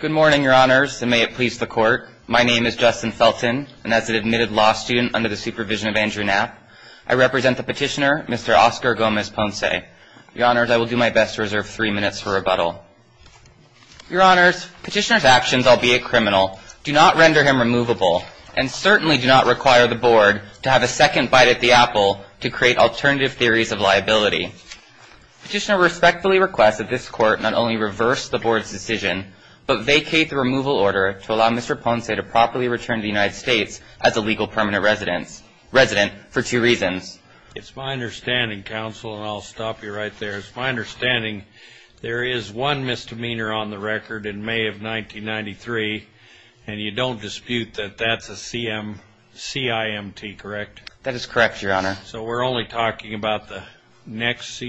Good morning, Your Honors, and may it please the Court. My name is Justin Felton, and as an admitted law student under the supervision of Andrew Knapp, I represent the petitioner, Mr. Oscar Gomez-Ponce. Your Honors, I will do my best to reserve three minutes for rebuttal. Your Honors, Petitioner's actions, albeit criminal, do not render him removable, and certainly do not require the Board to have a second bite at the apple to create alternative theories of liability. Petitioner respectfully requests that this Court not only reverse the Board's decision, but vacate the removal order to allow Mr. Ponce to properly return to the United States as a legal permanent resident for two reasons. It's my understanding, Counsel, and I'll stop you right there. It's my understanding there is one misdemeanor on the record in May of 1993, and you don't dispute that that's a CIMT, correct? That is correct, Your Honor. So we're only talking about the next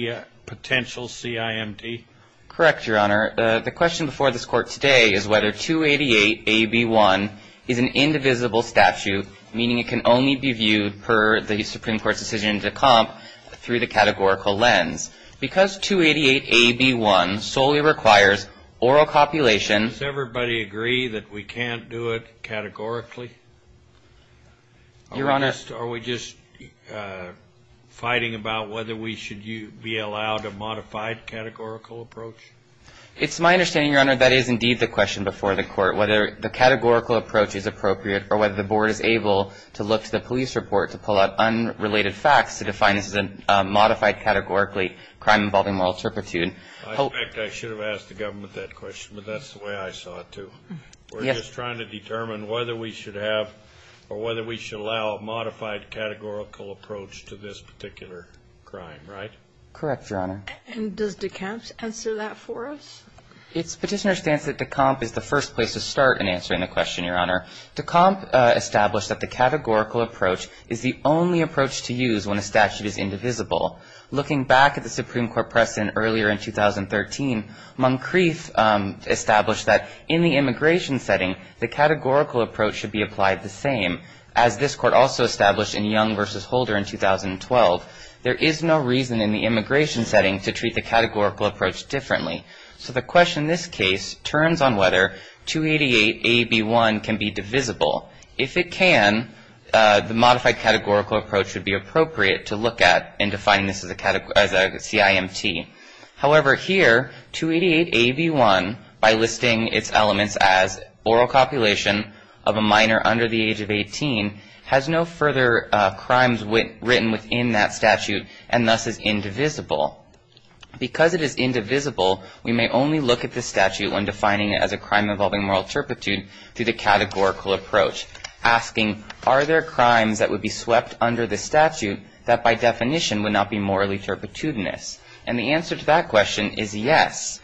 potential CIMT? Correct, Your Honor. The question before this Court today is whether 288-AB1 is an indivisible statute, meaning it can only be viewed per the Supreme Court's decision to comp through the categorical lens. Because 288-AB1 solely requires oral copulation... Does everybody agree that we can't do it categorically? Your Honor... Are we just fighting about whether we should be allowed a modified categorical approach? It's my understanding, Your Honor, that is indeed the question before the Court, whether the categorical approach is appropriate or whether the Board is able to look to the police report to pull out unrelated facts to define this as a modified categorically crime involving moral turpitude. I suspect I should have asked the government that question, but that's the way I saw it, too. We're just trying to determine whether we should have or whether we should allow a modified categorical approach to this particular crime, right? Correct, Your Honor. And does de Camp answer that for us? It's Petitioner's stance that de Camp is the first place to start in answering the question, Your Honor. De Camp established that the categorical approach is the only approach to use when a statute is indivisible. Looking back at the Supreme Court precedent earlier in 2013, Moncrief established that in the immigration setting, the categorical approach should be applied the same. As this Court also established in Young v. Holder in 2012, there is no reason in the immigration setting to treat the categorical approach differently. So the question in this case turns on whether 288a)(b)(1 can be divisible. If it can, the modified categorical approach would be appropriate to look at in defining this as a CIMT. However, here, 288a)(b)(1, by listing its elements as oral copulation of a minor under the age of 18, has no further crimes written within that statute and thus is indivisible. Because it is indivisible, we may only look at the statute when defining it as a crime involving moral turpitude through the categorical approach, asking, Are there crimes that would be swept under the statute that by definition would not be morally turpitudinous? And the answer to that question is yes.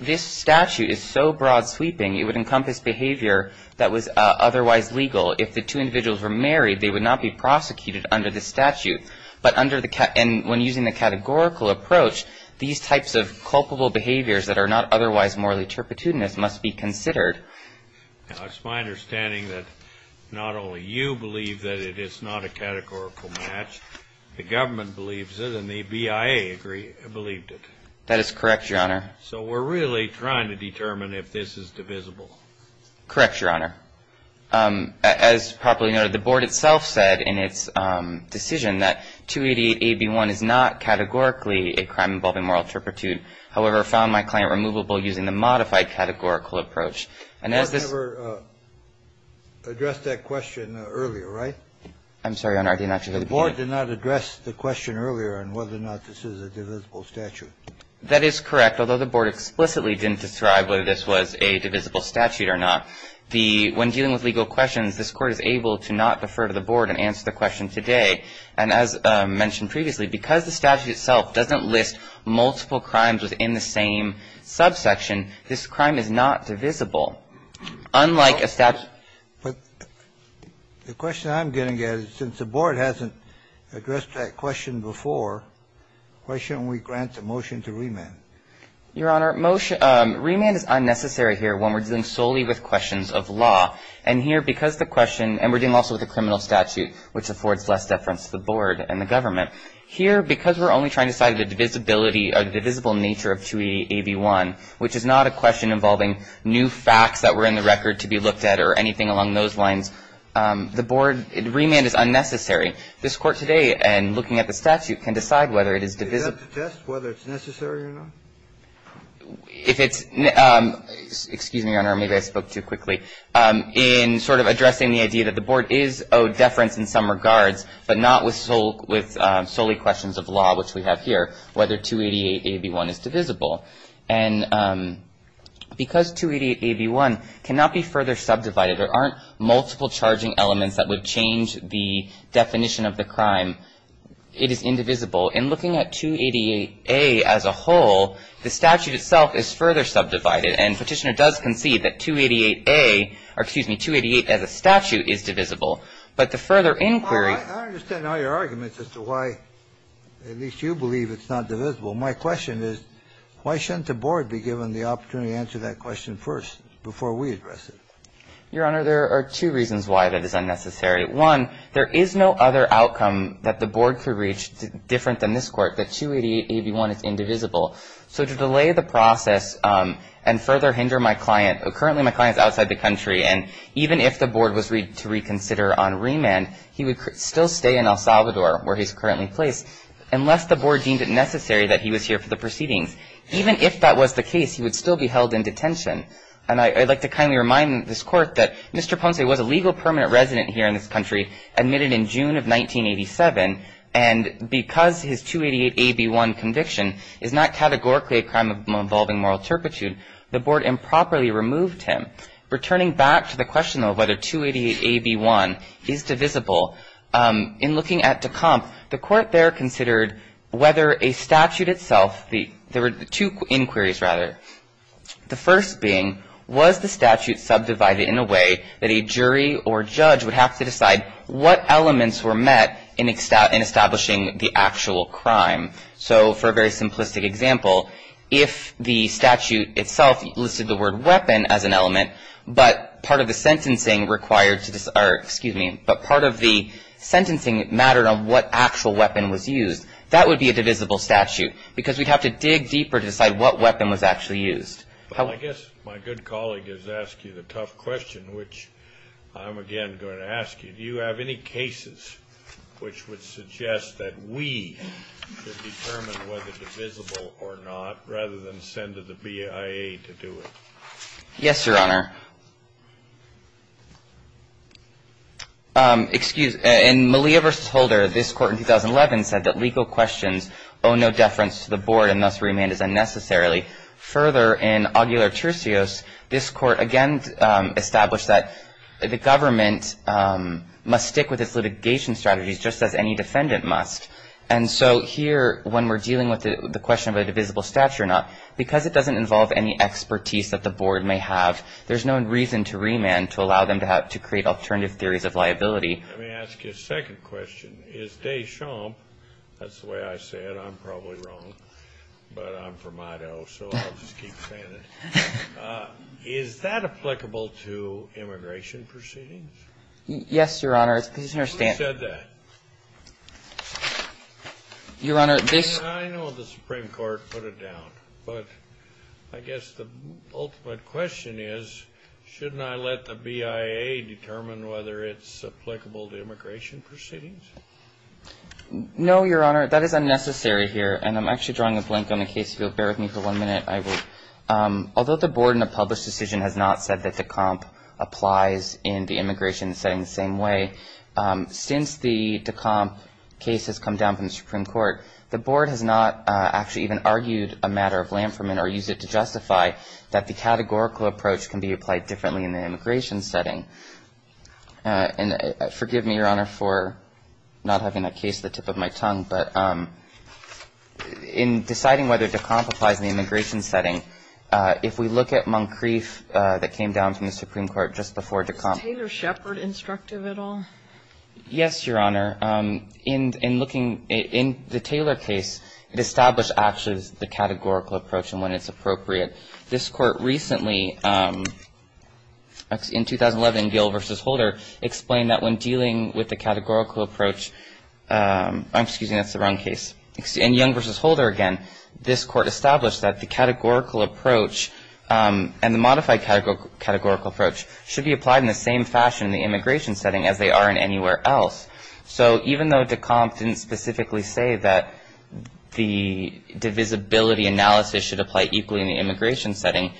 This statute is so broad-sweeping, it would encompass behavior that was otherwise legal. If the two individuals were married, they would not be prosecuted under the statute. And when using the categorical approach, these types of culpable behaviors that are not otherwise morally turpitudinous must be considered. It's my understanding that not only you believe that it is not a categorical match, the government believes it and the BIA believed it. That is correct, Your Honor. So we're really trying to determine if this is divisible. Correct, Your Honor. As probably noted, the Board itself said in its decision that 288a)(b)(1 is not categorically a crime involving moral turpitude. However, found my claim removable using the modified categorical approach. And as this ---- The Board never addressed that question earlier, right? I'm sorry, Your Honor. I didn't actually go to the beginning. The Board did not address the question earlier on whether or not this is a divisible statute. That is correct, although the Board explicitly didn't describe whether this was a divisible statute or not. The ---- when dealing with legal questions, this Court is able to not defer to the Board and answer the question today. And as mentioned previously, because the statute itself doesn't list multiple crimes within the same subsection, this crime is not divisible. Unlike a statute ---- But the question I'm getting at is since the Board hasn't addressed that question Your Honor, remand is unnecessary here when we're dealing solely with questions of law. And here, because the question ---- and we're dealing also with a criminal statute, which affords less deference to the Board and the government. Here, because we're only trying to decide the divisibility or the divisible nature of 288a)(b)(1, which is not a question involving new facts that were in the record to be looked at or anything along those lines, the Board ---- remand is unnecessary. This Court today, in looking at the statute, can decide whether it is divisible. Do you have to test whether it's necessary or not? If it's ---- excuse me, Your Honor, maybe I spoke too quickly. In sort of addressing the idea that the Board is owed deference in some regards, but not with solely questions of law, which we have here, whether 288a)(b)(1 is divisible. And because 288a)(b)(1 cannot be further subdivided, there aren't multiple charging elements that would change the definition of the crime, it is indivisible. In looking at 288a as a whole, the statute itself is further subdivided. And Petitioner does concede that 288a or excuse me, 288 as a statute is divisible. But the further inquiry ---- Kennedy, I understand all your arguments as to why at least you believe it's not divisible. My question is why shouldn't the Board be given the opportunity to answer that question first before we address it? Your Honor, there are two reasons why that is unnecessary. One, there is no other outcome that the Board could reach different than this Court, that 288a)(b)(1 is indivisible. So to delay the process and further hinder my client, currently my client is outside the country, and even if the Board was to reconsider on remand, he would still stay in El Salvador, where he's currently placed, unless the Board deemed it necessary that he was here for the proceedings. Even if that was the case, he would still be held in detention. And I'd like to kindly remind this Court that Mr. Ponce was a legal permanent resident here in this country, admitted in June of 1987. And because his 288a)(b)(1 conviction is not categorically a crime involving moral turpitude, the Board improperly removed him. Returning back to the question of whether 288a)(b)(1 is divisible, in looking at Dekompf, the Court there considered whether a statute itself ---- there were two inquiries, rather. The first being, was the statute subdivided in a way that a jury or judge would have to decide what elements were met in establishing the actual crime? So for a very simplistic example, if the statute itself listed the word weapon as an element, but part of the sentencing required to ---- or excuse me, but part of the sentencing mattered on what actual weapon was used, that would be a divisible statute. Because we'd have to dig deeper to decide what weapon was actually used. I guess my good colleague has asked you the tough question, which I'm again going to ask you. Do you have any cases which would suggest that we should determine whether divisible or not, rather than send to the BIA to do it? Yes, Your Honor. Excuse me. In Malia v. Holder, this Court in 2011 said that legal questions owe no deference to the Board and thus remain as unnecessarily. Further, in Augular-Turcios, this Court again established that the government must stick with its litigation strategies, just as any defendant must. And so here, when we're dealing with the question of a divisible statute or not, because it doesn't involve any expertise that the Board may have, there's no reason to remand to allow them to create alternative theories of liability. Let me ask you a second question. Is Deschamps, that's the way I say it, I'm probably wrong, but I'm from Idaho, so I'll just keep saying it. Is that applicable to immigration proceedings? Yes, Your Honor. Who said that? Your Honor, this ---- Well, I know the Supreme Court put it down, but I guess the ultimate question is, shouldn't I let the BIA determine whether it's applicable to immigration proceedings? No, Your Honor. That is unnecessary here, and I'm actually drawing a blank on the case. If you'll bear with me for one minute, I will. Although the Board in a published decision has not said that Deschamps applies in the immigration setting the same way, since the Deschamps case has come down from the Supreme Court, the Board has not actually even argued a matter of Lanferman or used it to justify that the categorical approach can be applied differently in the immigration setting. And forgive me, Your Honor, for not having a case at the tip of my tongue, but in deciding whether Deschamps applies in the immigration setting, if we look at Moncrief that came down from the Supreme Court just before Deschamps ---- Is Taylor-Shepard instructive at all? Yes, Your Honor. In looking ---- in the Taylor case, it established actually the categorical approach and when it's appropriate. This Court recently, in 2011, Gill v. Holder, explained that when dealing with the categorical approach ---- I'm excuse me, that's the wrong case. In Young v. Holder again, this Court established that the categorical approach and the modified categorical approach should be applied in the same fashion in the immigration setting as they are in anywhere else. So even though Deschamps didn't specifically say that the divisibility analysis should apply equally in the immigration setting,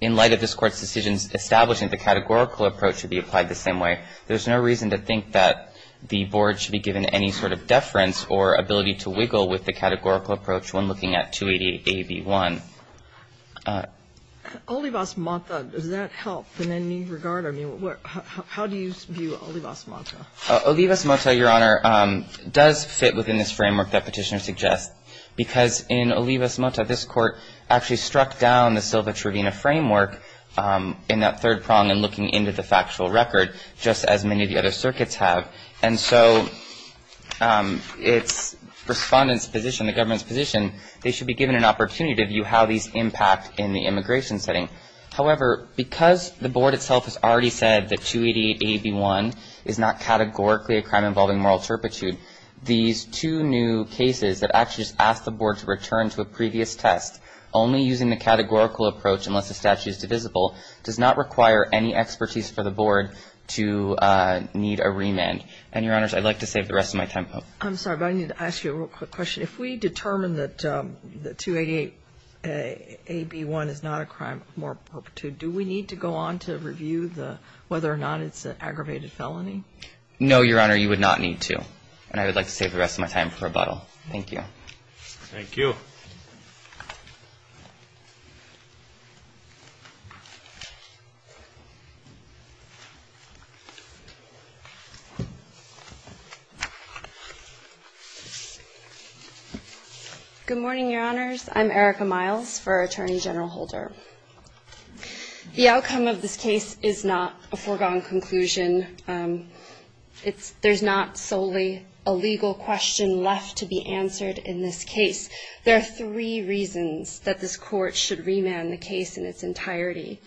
in light of this Court's decisions establishing that the categorical approach should be applied the same way, there's no reason to think that the Board should be given any sort of deference or ability to wiggle with the categorical approach when looking at 288a)(b)(1). Olivas-Mota, does that help in any regard? I mean, how do you view Olivas-Mota? Olivas-Mota, Your Honor, does fit within this framework that Petitioner suggests because in Olivas-Mota, this Court actually struck down the Silva-Trevina framework in that third prong in looking into the factual record, just as many of the other circuits have. And so its respondent's position, the government's position, they should be given an opportunity to view how these impact in the immigration setting. However, because the Board itself has already said that 288a)(b)(1 is not categorically a crime involving moral turpitude, these two new cases that actually just ask the Board to return to a previous test, only using the categorical approach unless the statute is divisible, does not require any expertise for the Board to need a remand. And, Your Honors, I'd like to save the rest of my time. I'm sorry, but I need to ask you a real quick question. If we determine that 288a)(b)(1 is not a crime of moral turpitude, do we need to go on to review whether or not it's an aggravated felony? No, Your Honor, you would not need to. And I would like to save the rest of my time for rebuttal. Thank you. Thank you. Good morning, Your Honors. I'm Erica Miles for Attorney General Holder. The outcome of this case is not a foregone conclusion. There's not solely a legal question left to be answered in this case. There are three reasons that this Court should remand the case in its entirety.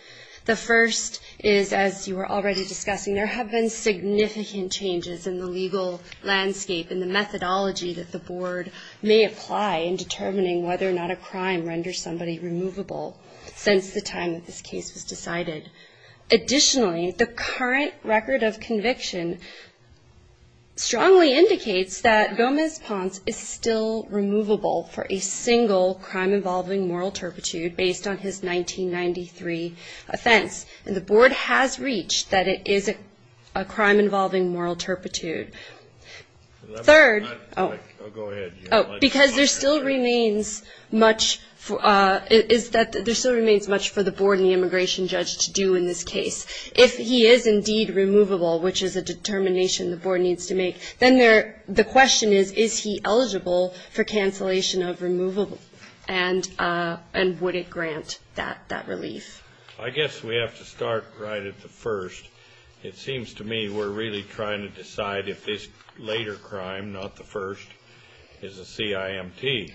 The first is, as you were already discussing, there have been significant changes in the legal landscape and the methodology that the Board may apply in determining whether or not a crime renders somebody removable since the time that this case was decided. Additionally, the current record of conviction strongly indicates that Gomez-Ponce is still removable for a single crime involving moral turpitude based on his 1993 offense. And the Board has reached that it is a crime involving moral turpitude. Third, because there still remains much for the Board and the immigration judge to do in this case. If he is indeed removable, which is a determination the Board needs to make, then the question is, is he eligible for cancellation of removable? And would it grant that relief? I guess we have to start right at the first. It seems to me we're really trying to decide if this later crime, not the first, is a CIMT.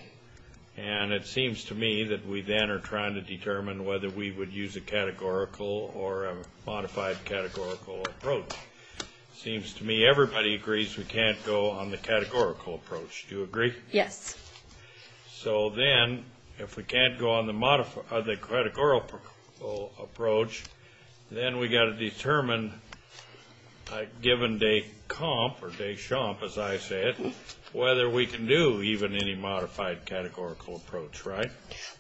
And it seems to me that we then are trying to determine whether we would use a categorical or a modified categorical approach. It seems to me everybody agrees we can't go on the categorical approach. Do you agree? Yes. So then if we can't go on the modified or the categorical approach, then we've got to determine a given day comp or day chomp, as I say it, whether we can do even any modified categorical approach, right?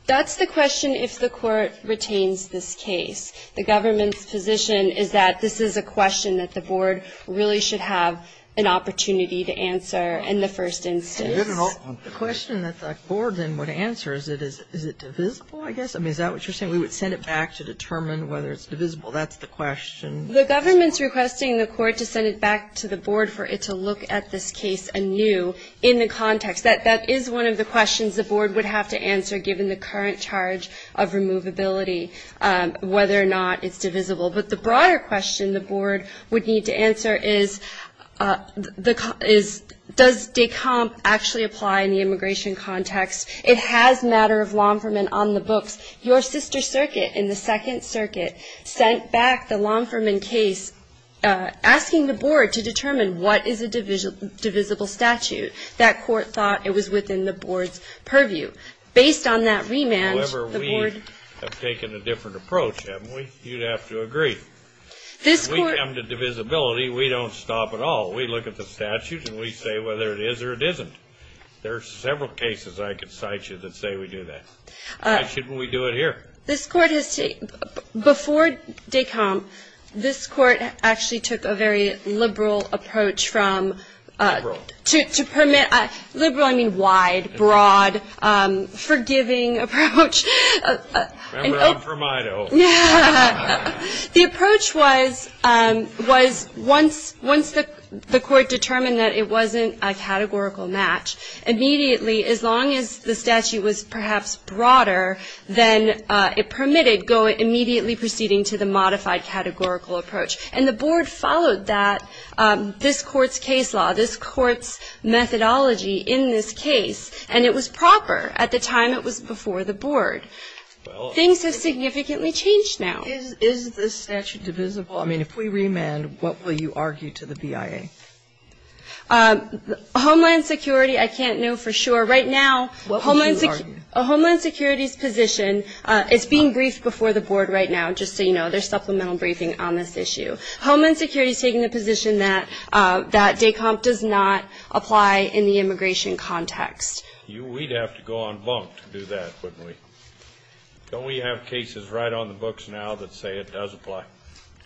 That's the question if the Court retains this case. The government's position is that this is a question that the Board really should have an opportunity to answer in the first instance. The question that the Board then would answer is, is it divisible, I guess? I mean, is that what you're saying? We would send it back to determine whether it's divisible. That's the question. The government's requesting the Court to send it back to the Board for it to look at this case anew in the context. That is one of the questions the Board would have to answer given the current charge of removability, whether or not it's divisible. But the broader question the Board would need to answer is, does day comp actually apply in the immigration context? It has matter of law enforcement on the books. Your sister circuit in the Second Circuit sent back the law enforcement case asking the Board to determine what is a divisible statute. That Court thought it was within the Board's purview. Based on that remand, the Board – However, we have taken a different approach, haven't we? You'd have to agree. This Court – When we come to divisibility, we don't stop at all. We look at the statute and we say whether it is or it isn't. There are several cases I could cite you that say we do that. Why shouldn't we do it here? This Court has – before day comp, this Court actually took a very liberal approach from – Liberal. Liberal, I mean wide, broad, forgiving approach. Remember, I'm from Idaho. The approach was once the Court determined that it wasn't a categorical match, immediately, as long as the statute was perhaps broader than it permitted, go immediately proceeding to the modified categorical approach. And the Board followed that. This Court's case law, this Court's methodology in this case, and it was proper at the time it was before the Board. Things have significantly changed now. Is this statute divisible? I mean, if we remand, what will you argue to the BIA? Homeland Security, I can't know for sure. Right now – What will you argue? Homeland Security's position – it's being briefed before the Board right now, just so you know. There's supplemental briefing on this issue. Homeland Security's taking the position that day comp does not apply in the immigration context. We'd have to go on bunk to do that, wouldn't we? Don't we have cases right on the books now that say it does apply?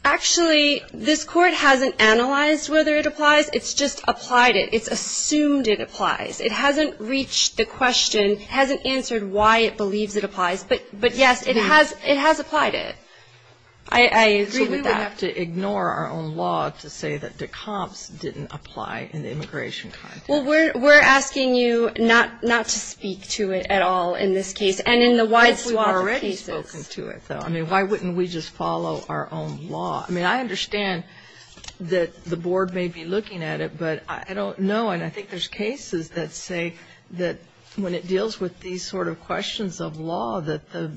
Actually, this Court hasn't analyzed whether it applies. It's just applied it. It's assumed it applies. It hasn't reached the question, hasn't answered why it believes it applies. But, yes, it has applied it. I agree with that. We would have to ignore our own law to say that de comps didn't apply in the immigration context. Well, we're asking you not to speak to it at all in this case and in the wide swath of cases. We've already spoken to it, though. I mean, why wouldn't we just follow our own law? I mean, I understand that the Board may be looking at it, but I don't know. And I think there's cases that say that when it deals with these sort of questions of law, that the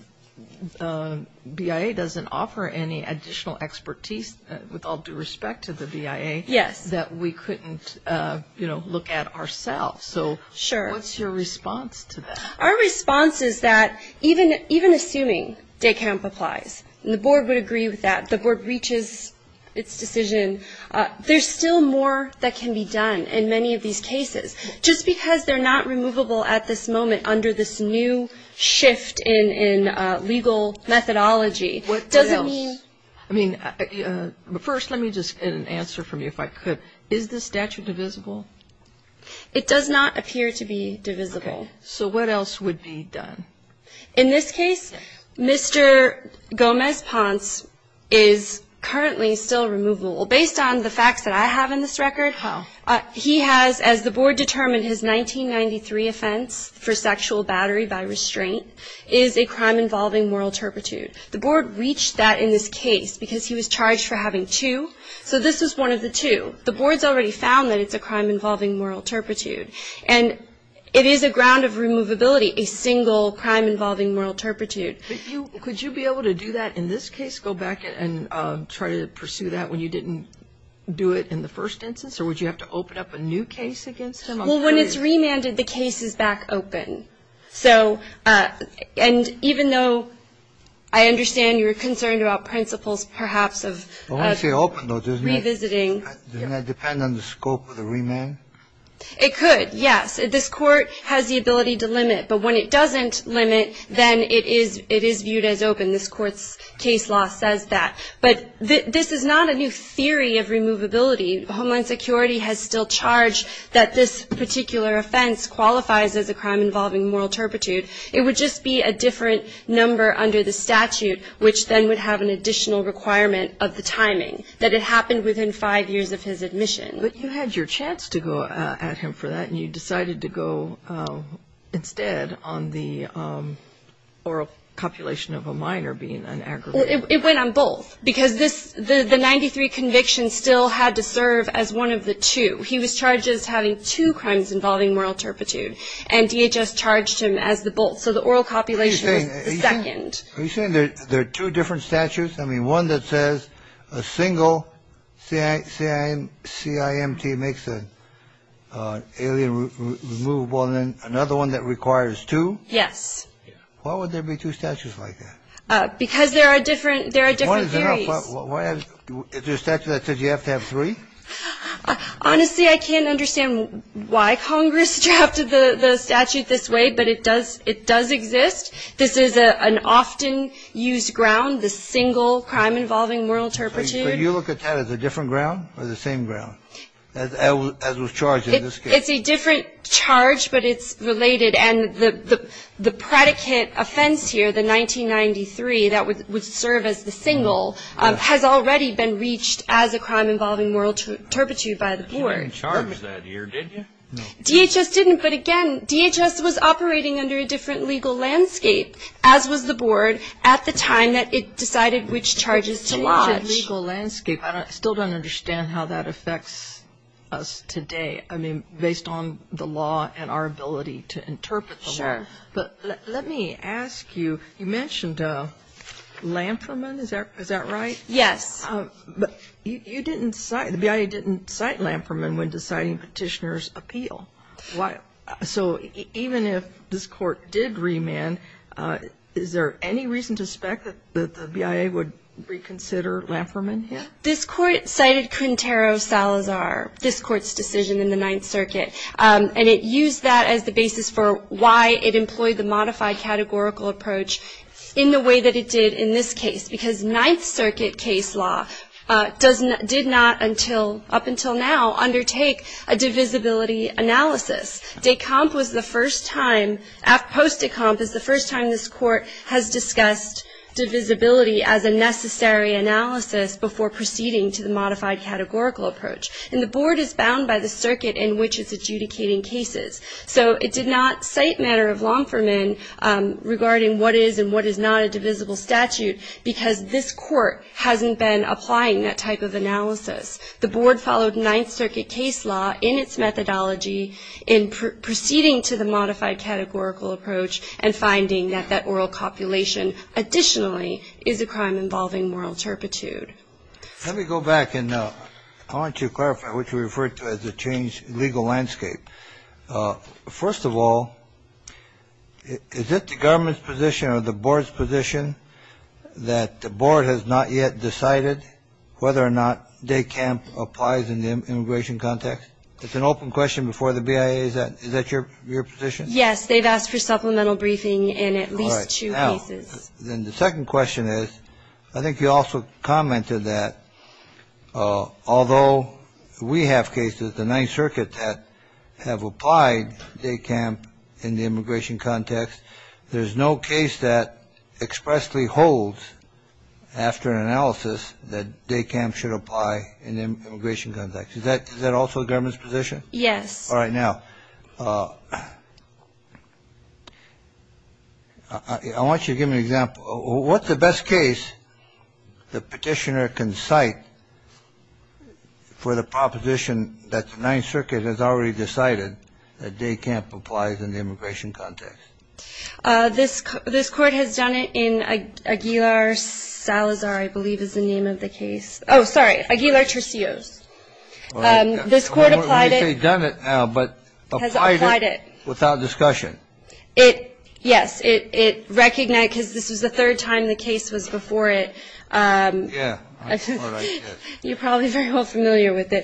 BIA doesn't offer any additional expertise, with all due respect to the BIA, that we couldn't look at ourselves. So what's your response to that? Our response is that even assuming de comp applies, and the Board would agree with that, the Board reaches its decision, there's still more that can be done in many of these cases. Just because they're not removable at this moment under this new shift in legal methodology doesn't mean. What else? I mean, first, let me just get an answer from you, if I could. Is the statute divisible? It does not appear to be divisible. Okay. So what else would be done? In this case, Mr. Gomez-Ponce is currently still removable. Based on the facts that I have in this record. How? He has, as the Board determined, his 1993 offense for sexual battery by restraint is a crime involving moral turpitude. The Board reached that in this case because he was charged for having two. So this is one of the two. The Board's already found that it's a crime involving moral turpitude. And it is a ground of removability, a single crime involving moral turpitude. Could you be able to do that in this case, go back and try to pursue that when you didn't do it in the first instance? Or would you have to open up a new case against him? Well, when it's remanded, the case is back open. So, and even though I understand you're concerned about principles perhaps of revisiting. Doesn't that depend on the scope of the remand? It could, yes. This Court has the ability to limit. But when it doesn't limit, then it is viewed as open. This Court's case law says that. But this is not a new theory of removability. Homeland Security has still charged that this particular offense qualifies as a crime involving moral turpitude. It would just be a different number under the statute, which then would have an additional requirement of the timing, that it happened within five years of his admission. But you had your chance to go at him for that, and you decided to go instead on the oral copulation of a minor being an aggravated crime. It went on both. Because this, the 93 conviction still had to serve as one of the two. He was charged as having two crimes involving moral turpitude. And DHS charged him as the both. So the oral copulation was the second. Are you saying there are two different statutes? I mean, one that says a single CIMT makes an alien removable, and then another one that requires two? Yes. Why would there be two statutes like that? Because there are different theories. Is there a statute that says you have to have three? Honestly, I can't understand why Congress drafted the statute this way, but it does exist. This is an often used ground, the single crime involving moral turpitude. So you look at that as a different ground or the same ground, as was charged in this case? It's a different charge, but it's related. And the predicate offense here, the 1993, that would serve as the single, has already been reached as a crime involving moral turpitude by the board. You didn't charge that here, did you? DHS didn't. But, again, DHS was operating under a different legal landscape, as was the board at the time that it decided which charges to lodge. Different legal landscape. I still don't understand how that affects us today, I mean, based on the law and our ability to interpret them. Sure. But let me ask you, you mentioned Lamperman, is that right? Yes. But you didn't cite, the BIA didn't cite Lamperman when deciding petitioner's appeal. So even if this Court did remand, is there any reason to suspect that the BIA would reconsider Lamperman here? This Court cited Quintero Salazar, this Court's decision in the Ninth Circuit, and it used that as the basis for why it employed the modified categorical approach in the way that it did in this case. Because Ninth Circuit case law did not, up until now, undertake a divisibility analysis. Descamp was the first time, post-Descamp was the first time this Court has discussed divisibility as a necessary analysis before proceeding to the modified categorical approach. And the Board is bound by the circuit in which it's adjudicating cases. So it did not cite matter of Lamperman regarding what is and what is not a divisible statute because this Court hasn't been applying that type of analysis. The Board followed Ninth Circuit case law in its methodology in proceeding to the modified categorical approach and finding that that oral copulation additionally is a crime involving moral turpitude. Let me go back and I want to clarify what you referred to as a changed legal landscape. First of all, is it the government's position or the Board's position that the Board has not yet decided whether or not Descamp applies in the immigration context? It's an open question before the BIA. Is that your position? Yes, they've asked for supplemental briefing in at least two cases. Then the second question is, I think you also commented that although we have cases, the Ninth Circuit that have applied Descamp in the immigration context, there's no case that expressly holds after analysis that Descamp should apply in the immigration context. Is that also the government's position? Yes. All right. Now, I want you to give me an example. What's the best case the Petitioner can cite for the proposition that the Ninth Circuit has already decided that Descamp applies in the immigration context? This Court has done it in Aguilar-Salazar, I believe is the name of the case. Oh, sorry. Aguilar-Tercios. This Court applied it. I don't know if they've done it now, but applied it without discussion. Yes. It recognized, because this was the third time the case was before it. Yes. I thought I did. You're probably very well familiar with it.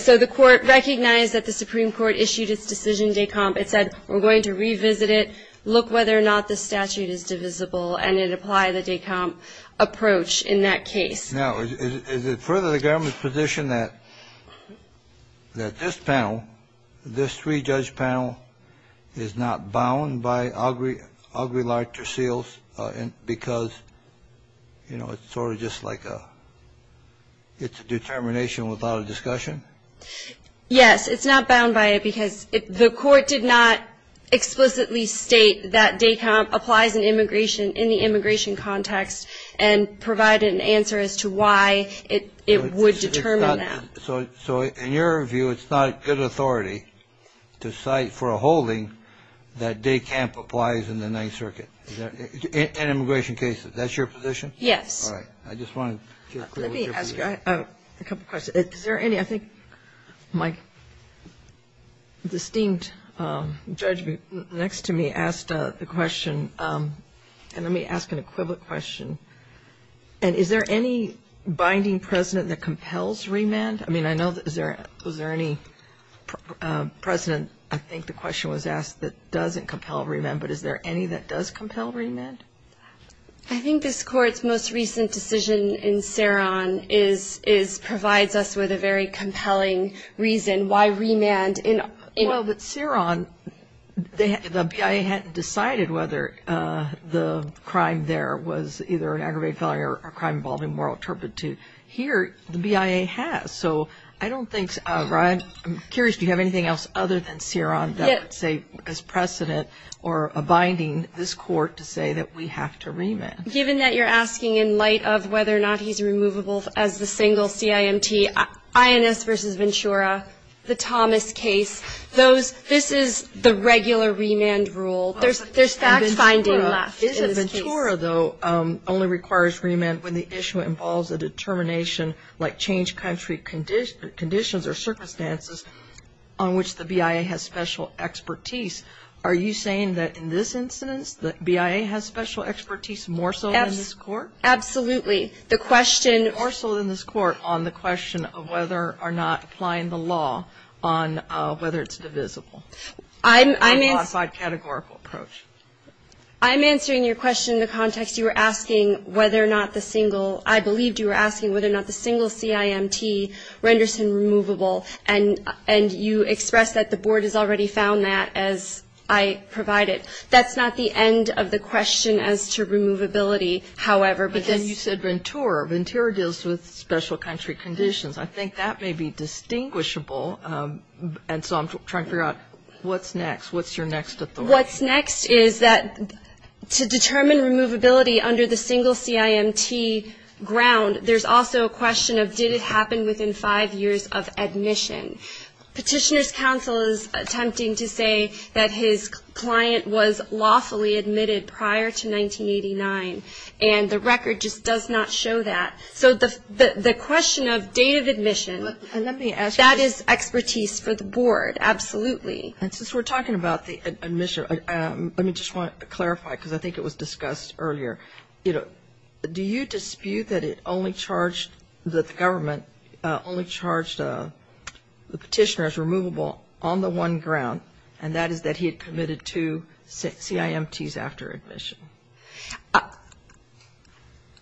So the Court recognized that the Supreme Court issued its decision, Descamp. It said we're going to revisit it, look whether or not the statute is divisible, and it applied the Descamp approach in that case. Now, is it further the government's position that this panel, this three-judge panel, is not bound by Aguilar-Tercios because, you know, it's sort of just like a determination without a discussion? Yes. It's not bound by it because the Court did not explicitly state that Descamp applies in the immigration context and provide an answer as to why it would determine that. So in your view, it's not good authority to cite for a holding that Descamp applies in the Ninth Circuit, in immigration cases. Is that your position? Yes. All right. I just want to get clear with your position. Let me ask you a couple questions. Is there any, I think my distinct judge next to me asked the question, and let me ask an equivalent question, and is there any binding precedent that compels remand? I mean, I know, is there any precedent, I think the question was asked, that doesn't compel remand, but is there any that does compel remand? I think this Court's most recent decision in Ceron is, provides us with a very compelling reason why remand. Well, but Ceron, the BIA hadn't decided whether the crime there was either an aggravated felony or a crime involving moral turpitude. Here, the BIA has. So I don't think, I'm curious, do you have anything else other than Ceron that would provide as precedent, or a binding, this Court to say that we have to remand? Given that you're asking in light of whether or not he's removable as the single CIMT, Inos v. Ventura, the Thomas case, this is the regular remand rule. There's fact-finding left in this case. Ventura, though, only requires remand when the issue involves a determination, like Are you saying that in this instance, the BIA has special expertise more so than this Court? Absolutely. The question More so than this Court on the question of whether or not applying the law on whether it's divisible. I'm answering your question in the context you were asking whether or not the single I believed you were asking whether or not the single CIMT renders him removable, and you expressed that the Board has already found that, as I provided. That's not the end of the question as to removability. However, because But then you said Ventura. Ventura deals with special country conditions. I think that may be distinguishable, and so I'm trying to figure out what's next. What's your next authority? What's next is that to determine removability under the single CIMT ground, there's also a within five years of admission. Petitioner's counsel is attempting to say that his client was lawfully admitted prior to 1989, and the record just does not show that. So the question of date of admission, that is expertise for the Board, absolutely. And since we're talking about the admission, let me just clarify, because I think it was discussed earlier. Do you dispute that it only charged, that the government only charged the petitioner as removable on the one ground, and that is that he had committed two CIMTs after admission?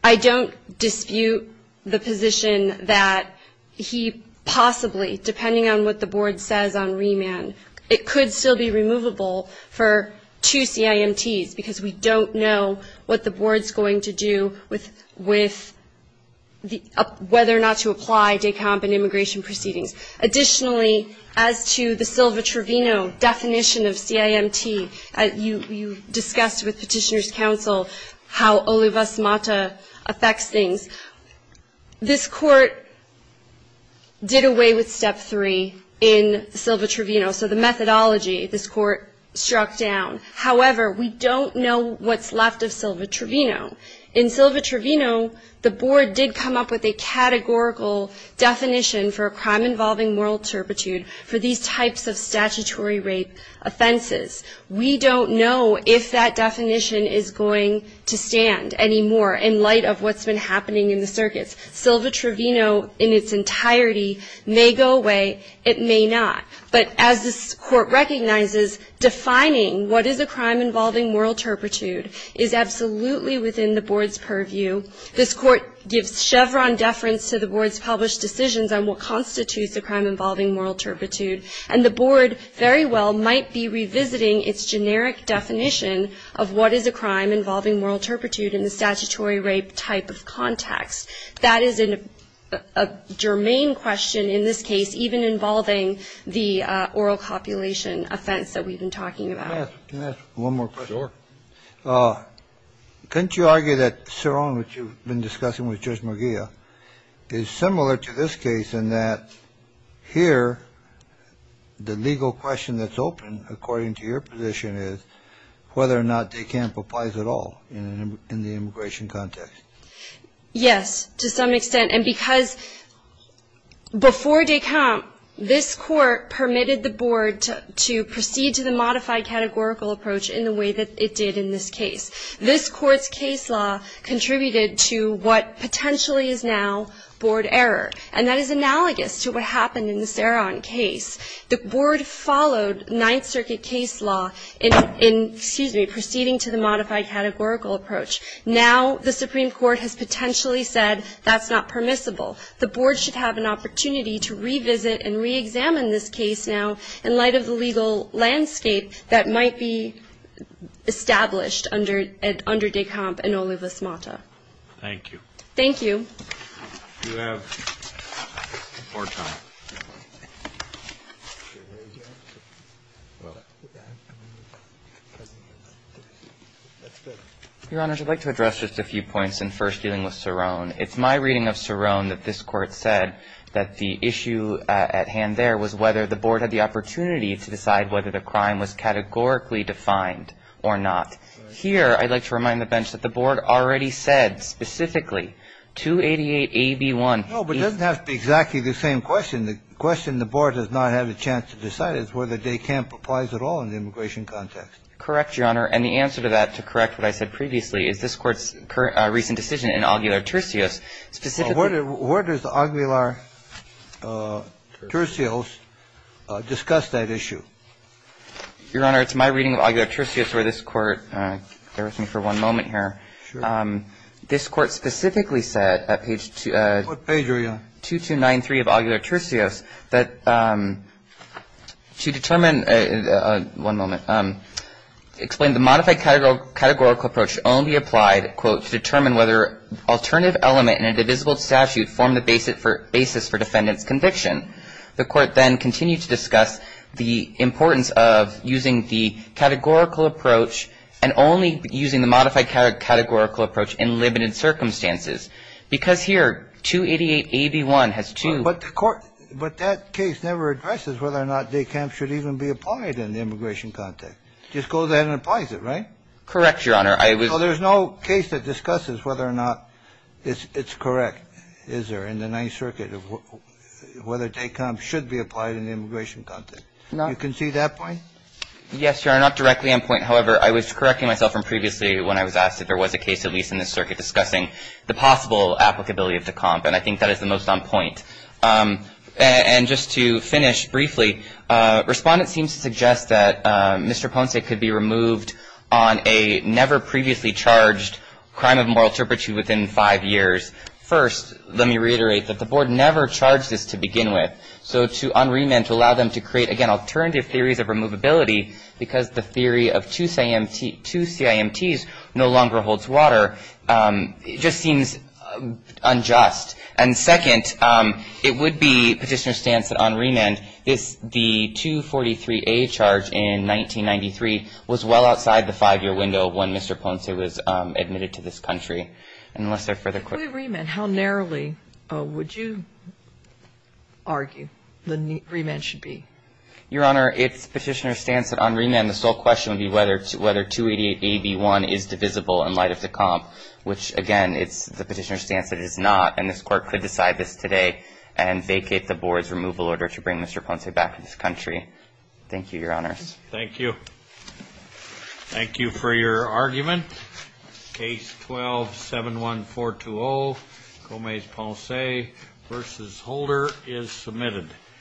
I don't dispute the position that he possibly, depending on what the Board says on remand, it could still be removable for two CIMTs, because we don't know what the Board's going to do with whether or not to apply DECOMP and immigration proceedings. Additionally, as to the Silva-Trevino definition of CIMT, you discussed with petitioner's counsel how Olivas-Mata affects things. This Court did away with Step 3 in Silva-Trevino, so the methodology this Court struck down. However, we don't know what's left of Silva-Trevino. In Silva-Trevino, the Board did come up with a categorical definition for a crime involving moral turpitude for these types of statutory rape offenses. We don't know if that definition is going to stand anymore in light of what's been happening in the circuits. Silva-Trevino in its entirety may go away, it may not. But as this Court recognizes, defining what is a crime involving moral turpitude is absolutely within the Board's purview. This Court gives Chevron deference to the Board's published decisions on what constitutes a crime involving moral turpitude, and the Board very well might be revisiting its generic definition of what is a crime involving moral turpitude in the statutory rape type of context. That is a germane question in this case, even involving the oral copulation offense that we've been talking about. Sure. Couldn't you argue that Ceron, which you've been discussing with Judge McGeough, is similar to this case in that here the legal question that's open, according to your position, is whether or not Descamp applies at all in the immigration context? Yes, to some extent. And because before Descamp, this Court permitted the Board to proceed to the modified categorical approach in the way that it did in this case. This Court's case law contributed to what potentially is now Board error, and that is analogous to what happened in the Ceron case. The Board followed Ninth Circuit case law in, excuse me, proceeding to the modified categorical approach. Now the Supreme Court has potentially said that's not permissible. The Board should have an opportunity to revisit and reexamine this case now in light of the legal landscape that might be established under Descamp and Olivas-Mata. Thank you. Your Honors, I'd like to address just a few points in first dealing with Ceron. It's my reading of Ceron that this Court said that the issue at hand there was whether the Board had the opportunity to decide whether the crime was categorically defined or not. Here, I'd like to remind the bench that the Board already said specifically 288a)(b)(1). No, but it doesn't have to be exactly the same question. The question the Board does not have a chance to decide is whether Descamp applies at all in the immigration context. Correct, Your Honor. And the answer to that, to correct what I said previously, is this Court's recent decision in Aguilar-Turcios specifically Where does Aguilar-Turcios discuss that issue? Your Honor, it's my reading of Aguilar-Turcios where this Court, bear with me for one moment here. Sure. This Court specifically said at page 2293 of Aguilar-Turcios that to determine One moment. Explained the modified categorical approach only applied, quote, to determine whether alternative element in a divisible statute formed the basis for defendant's conviction. The Court then continued to discuss the importance of using the categorical approach and only using the modified categorical approach in limited circumstances. Because here, 288a)(b)(1), has two But that case never addresses whether or not Descamp should even be applied in the immigration context. It just goes ahead and applies it, right? Correct, Your Honor. So there's no case that discusses whether or not it's correct, is there, in the Ninth Circuit, of whether Descamp should be applied in the immigration context. You concede that point? Yes, Your Honor. Not directly on point. However, I was correcting myself from previously when I was asked if there was a case, at least in this circuit, discussing the possible applicability of Descamp. And I think that is the most on point. And just to finish briefly, respondents seem to suggest that Mr. Ponce could be removed on a never previously charged crime of moral turpitude within five years. First, let me reiterate that the Board never charged this to begin with. So to unremit, to allow them to create, again, alternative theories of removability, because the theory of two CIMTs no longer holds water, just seems unjust. And second, it would be Petitioner's stance that on remand, this, the 243A charge in 1993 was well outside the five-year window when Mr. Ponce was admitted to this country. And unless there are further questions. If we remand, how narrowly would you argue the remand should be? Your Honor, it's Petitioner's stance that on remand, the sole question would be whether 288AB1 is divisible in light of the comp, which, again, it's the Petitioner's stance that it is not. And this Court could decide this today and vacate the Board's removal order to bring Mr. Ponce back to this country. Thank you, Your Honors. Thank you. Thank you for your argument. Case 12-71420, Gomez-Ponce v. Holder is submitted.